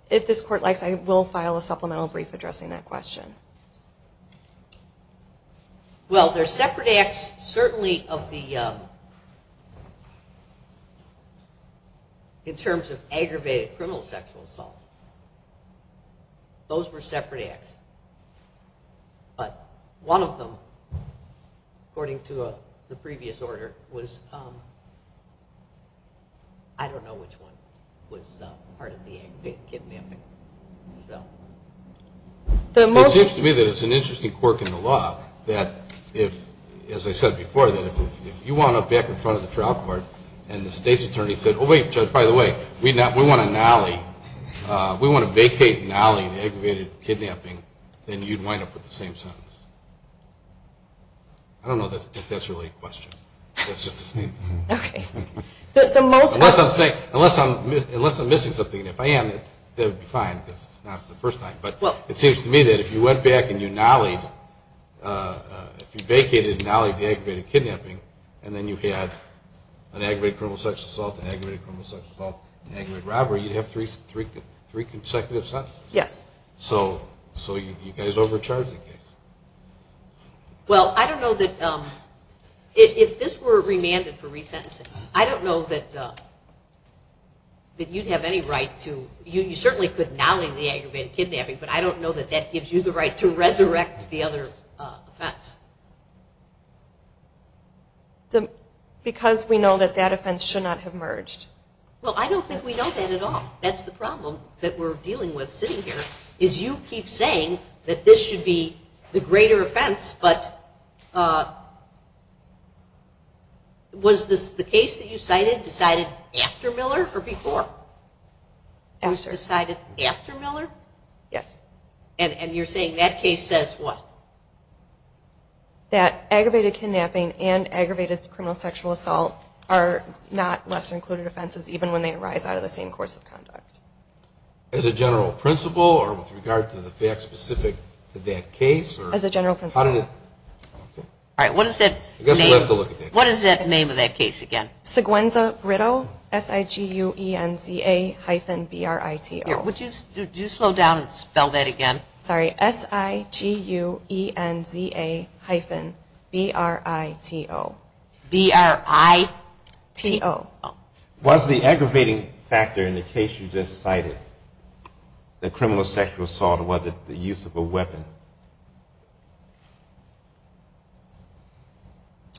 If this Court likes, I will file a supplemental brief addressing that question. Well, they're separate acts certainly of the, in terms of aggravated criminal sexual assault. Those were separate acts. But one of them, according to the previous order, was, I don't know which one was part of the aggravated kidnapping. It seems to me that it's an interesting quirk in the law that if, as I said before, that if you wound up back in front of the trial court and the state's attorney said, oh, wait, Judge, by the way, we want to nolly, we want to vacate and nolly the aggravated kidnapping, then you'd wind up with the same sentence. I don't know if that's really a question. It's just a statement. Unless I'm missing something. And if I am, that would be fine because it's not the first time. But it seems to me that if you went back and you nollied, if you vacated and nollied the aggravated kidnapping, and then you had an aggravated criminal sexual assault, an aggravated criminal sexual assault, an aggravated robbery, you'd have three consecutive sentences. Yes. So you guys overcharged the case. Well, I don't know that, if this were remanded for resentencing, I don't know that you'd have any right to, you certainly could nolly the aggravated kidnapping, but I don't know that that gives you the right to resurrect the other offense. Because we know that that offense should not have merged. Well, I don't think we know that at all. That's the problem that we're dealing with sitting here, is you keep saying that this should be the greater offense, but was the case that you cited decided after Miller or before? After. It was decided after Miller? Yes. And you're saying that case says what? That aggravated kidnapping and aggravated criminal sexual assault are not lesser included offenses, even when they arise out of the same course of conduct. As a general principle or with regard to the fact specific to that case? As a general principle. All right, what is that name of that case again? Seguenza-Britto, S-I-G-U-E-N-Z-A hyphen B-R-I-T-O. Would you slow down and spell that again? Sorry, S-I-G-U-E-N-Z-A hyphen B-R-I-T-O. B-R-I-T-O. Was the aggravating factor in the case you just cited, the criminal sexual assault, or was it the use of a weapon?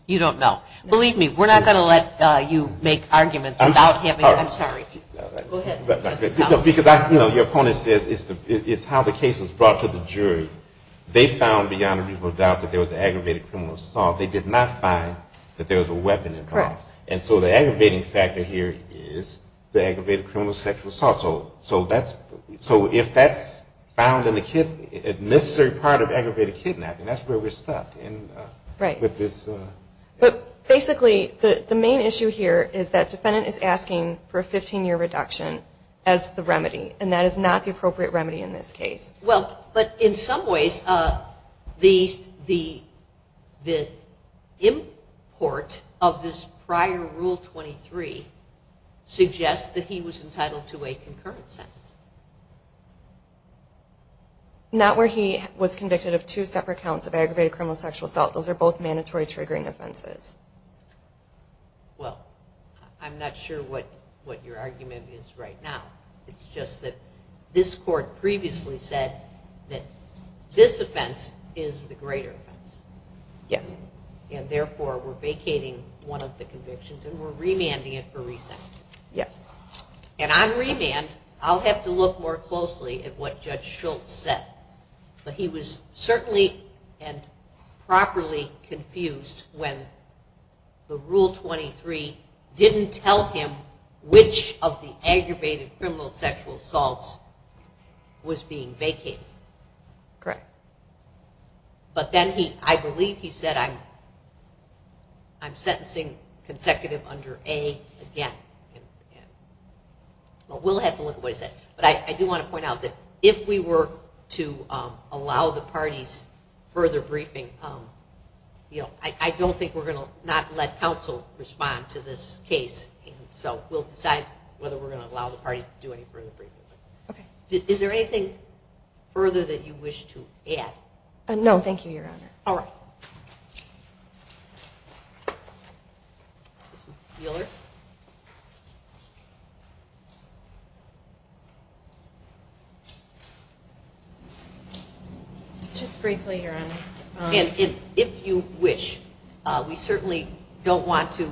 You don't know. Believe me, we're not going to let you make arguments about him. I'm sorry. Go ahead. Because your opponent says it's how the case was brought to the jury. They found beyond a reasonable doubt that there was aggravated criminal assault. They did not find that there was a weapon involved. And so the aggravating factor here is the aggravated criminal sexual assault. So if that's found in the necessary part of aggravated kidnapping, that's where we're stuck. Right. But basically the main issue here is that defendant is asking for a 15-year reduction as the remedy, and that is not the appropriate remedy in this case. Well, but in some ways the import of this prior Rule 23 suggests that he was entitled to a concurrent sentence. Not where he was convicted of two separate counts of aggravated criminal sexual assault. Those are both mandatory triggering offenses. Well, I'm not sure what your argument is right now. It's just that this court previously said that this offense is the greater offense. Yes. And therefore we're vacating one of the convictions and we're remanding it for resentence. Yes. And on remand, I'll have to look more closely at what Judge Schultz said. But he was certainly and properly confused when the Rule 23 didn't tell him which of the aggravated criminal sexual assaults was being vacated. Correct. But then I believe he said, I'm sentencing consecutive under A again. Well, we'll have to look at what he said. But I do want to point out that if we were to allow the parties further briefing, I don't think we're going to not let counsel respond to this case. So we'll decide whether we're going to allow the parties to do any further briefing. Okay. Is there anything further that you wish to add? No, thank you, Your Honor. All right. Ms. Wheeler? Just briefly, Your Honor. And if you wish, we certainly don't want to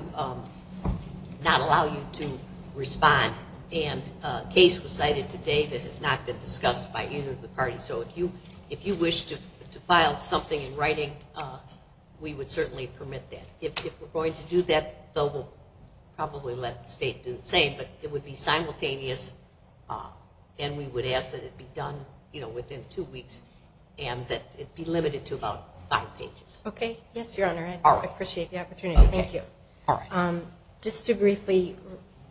not allow you to respond. And a case was cited today that has not been discussed by either of the parties. So if you wish to file something in writing, we would certainly permit that. If we're going to do that, though, we'll probably let the state do the same. But it would be simultaneous, and we would ask that it be done within two weeks and that it be limited to about five pages. Okay. Yes, Your Honor. I appreciate the opportunity. Thank you. All right. Just to briefly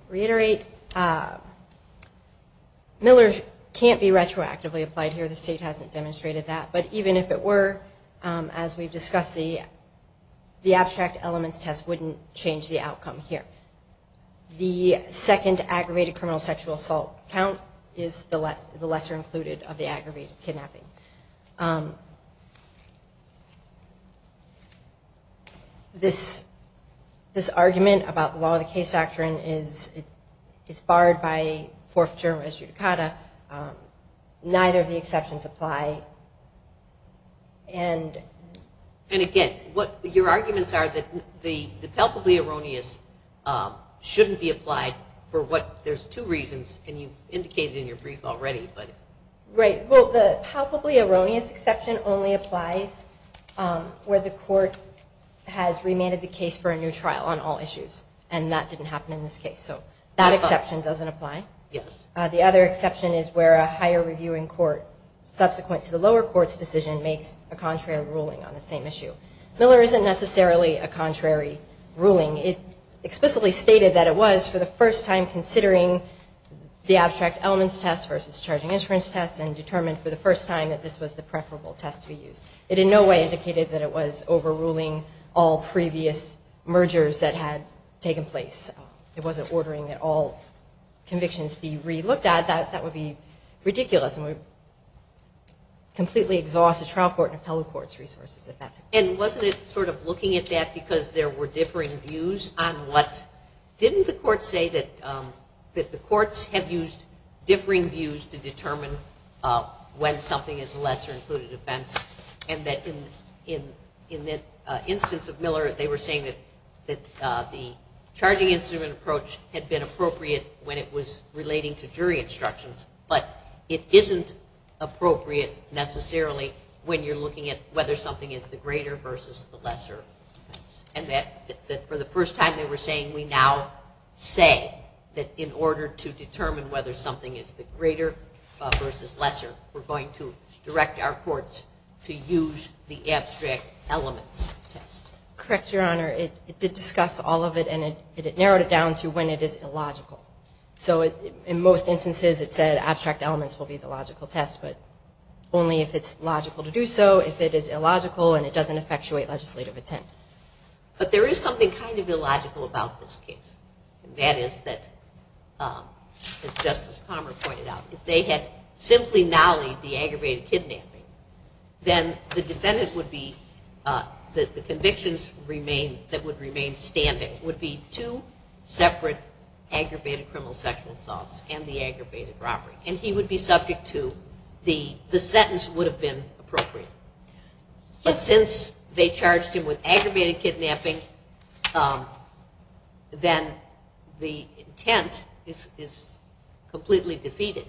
reiterate, Miller can't be retroactively applied here. The state hasn't demonstrated that. But even if it were, as we've discussed, the abstract elements test wouldn't change the outcome here. The second aggravated criminal sexual assault count is the lesser included of the aggravated kidnapping. This argument about the law of the case doctrine is barred by Fourth Jurisdiction. Neither of the exceptions apply. And again, your arguments are that the palpably erroneous shouldn't be applied for what? There's two reasons, and you indicated in your brief already. Right. Well, the palpably erroneous exception only applies where the court has remanded the case for a new trial on all issues. And that didn't happen in this case. So that exception doesn't apply. Yes. The other exception is where a higher reviewing court, subsequent to the lower court's decision, makes a contrary ruling on the same issue. Miller isn't necessarily a contrary ruling. It explicitly stated that it was for the first time considering the abstract elements test versus charging insurance test and determined for the first time that this was the preferable test to be used. It in no way indicated that it was overruling all previous mergers that had taken place. It wasn't ordering that all convictions be relooked at. That would be ridiculous, and would completely exhaust the trial court and appellate court's resources. And wasn't it sort of looking at that because there were differing views on what? Didn't the court say that the courts have used differing views to determine when something is a lesser included offense and that in the instance of Miller they were saying that the charging instrument approach had been appropriate when it was relating to jury instructions, but it isn't appropriate necessarily when you're looking at whether something is the greater versus the lesser offense. And that for the first time they were saying, we now say that in order to determine whether something is the greater versus lesser, we're going to direct our courts to use the abstract elements test. Correct, Your Honor. It did discuss all of it, and it narrowed it down to when it is illogical. So in most instances it said abstract elements will be the logical test, but only if it's logical to do so, if it is illogical and it doesn't effectuate legislative intent. But there is something kind of illogical about this case. And that is that, as Justice Palmer pointed out, if they had simply nollied the aggravated kidnapping, then the defendant would be, the convictions that would remain standing, would be two separate aggravated criminal sexual assaults and the aggravated robbery. And he would be subject to the sentence would have been appropriate. But since they charged him with aggravated kidnapping, then the intent is completely defeated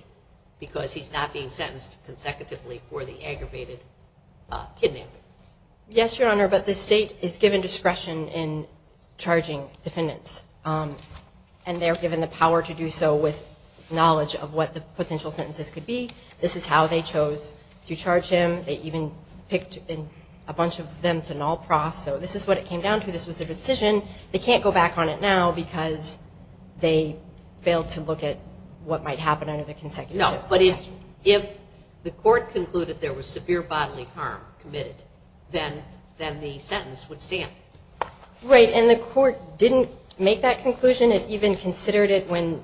because he's not being sentenced consecutively for the aggravated kidnapping. Yes, Your Honor, but the state is given discretion in charging defendants. And they're given the power to do so with knowledge of what the potential sentences could be. This is how they chose to charge him. They even picked a bunch of them to null profs. So this is what it came down to. This was a decision. They can't go back on it now because they failed to look at what might happen under the consecutive sentence. But if the court concluded there was severe bodily harm committed, then the sentence would stand. Right. And the court didn't make that conclusion. It even considered it when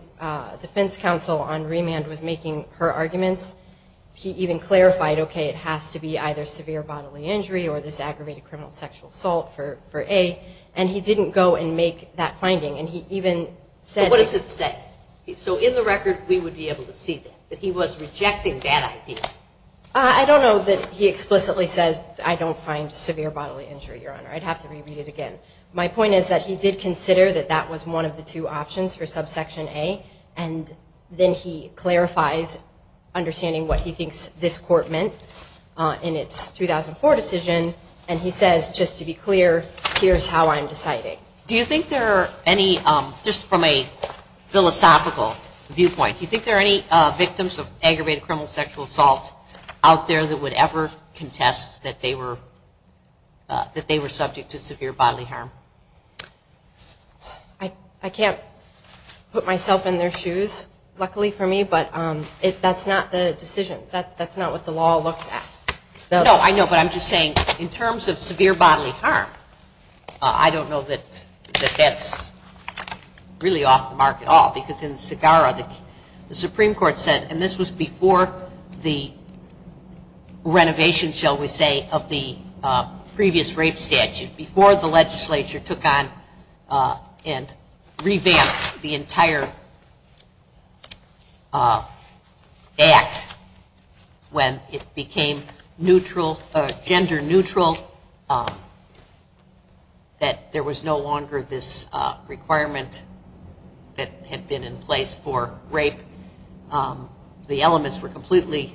defense counsel on remand was making her arguments. He even clarified, okay, it has to be either severe bodily injury or this aggravated criminal sexual assault for A. And he didn't go and make that finding. And he even said it. But what does it say? So in the record, we would be able to see that he was rejecting that idea. I don't know that he explicitly says, I don't find severe bodily injury, Your Honor. I'd have to re-read it again. My point is that he did consider that that was one of the two options for subsection A. And then he clarifies, understanding what he thinks this court meant in its 2004 decision. And he says, just to be clear, here's how I'm deciding. Do you think there are any, just from a philosophical viewpoint, do you think there are any victims of aggravated criminal sexual assault out there that would ever contest that they were subject to severe bodily harm? I can't put myself in their shoes, luckily for me, but that's not the decision. That's not what the law looks at. No, I know, but I'm just saying in terms of severe bodily harm, I don't know that that's really off the mark at all. Because in Segarra, the Supreme Court said, and this was before the renovation, shall we say, of the previous rape statute, before the legislature took on and revamped the entire act when it became gender neutral, that there was no longer this requirement that had been in place for rape. The elements were completely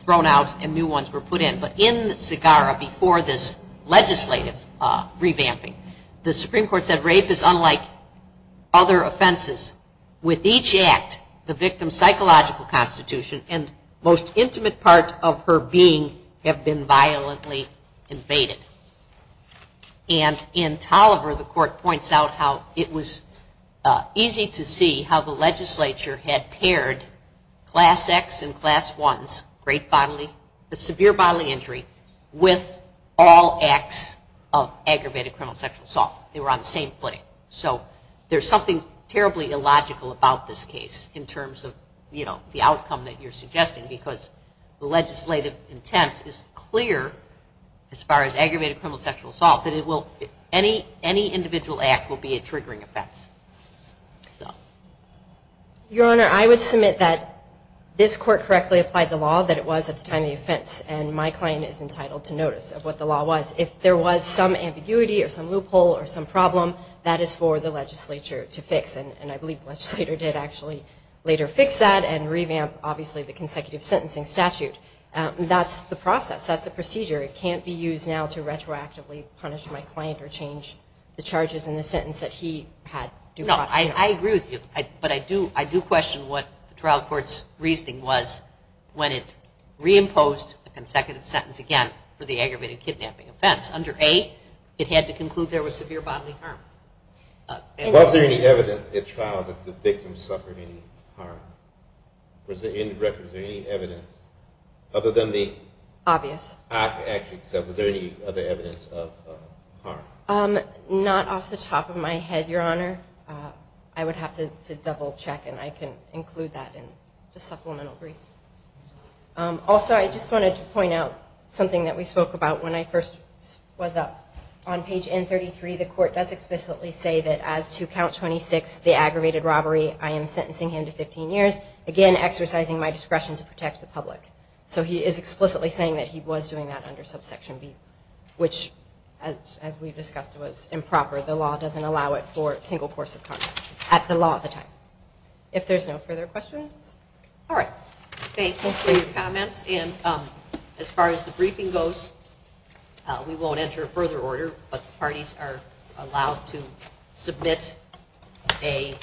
thrown out and new ones were put in. But in Segarra, before this legislative revamping, the Supreme Court said rape is unlike other offenses. With each act, the victim's psychological constitution and most intimate part of her being have been violently invaded. And in Tolliver, the court points out how it was easy to see how the legislature had paired Class X and Class 1's rape bodily, the severe bodily injury, with all acts of aggravated criminal sexual assault. They were on the same footing. So there's something terribly illogical about this case in terms of the outcome that you're suggesting because the legislative intent is clear as far as aggravated criminal sexual assault that any individual act will be a triggering effect. Your Honor, I would submit that this court correctly applied the law that it was at the time of the offense. And my client is entitled to notice of what the law was. If there was some ambiguity or some loophole or some problem, that is for the legislature to fix. And I believe the legislator did actually later fix that and revamp, obviously, the consecutive sentencing statute. That's the process. That's the procedure. It can't be used now to retroactively punish my client or change the charges in the sentence that he had due process. No, I agree with you. But I do question what the trial court's reasoning was when it reimposed the consecutive sentence again for the aggravated kidnapping offense. Under A, it had to conclude there was severe bodily harm. Was there any evidence at trial that the victim suffered any harm? Was there any evidence other than the obvious? I can actually accept. Was there any other evidence of harm? Not off the top of my head, Your Honor. I would have to double-check, and I can include that in the supplemental brief. Also, I just wanted to point out something that we spoke about when I first was up. On page N33, the court does explicitly say that as to count 26, the aggravated robbery, I am sentencing him to 15 years, again exercising my discretion to protect the public. So he is explicitly saying that he was doing that under subsection B, which, as we discussed, was improper. The law doesn't allow it for a single course of conduct at the law at the time. If there's no further questions? All right. Thank you for your comments. And as far as the briefing goes, we won't enter a further order, but the parties are allowed to submit a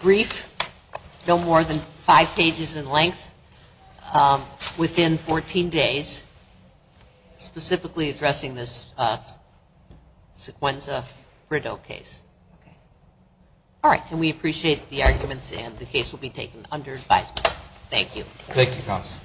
brief, no more than five pages in length, within 14 days, specifically addressing this Sequenza Brito case. All right. And we appreciate the arguments, and the case will be taken under advisement. Thank you. Thank you, Counsel.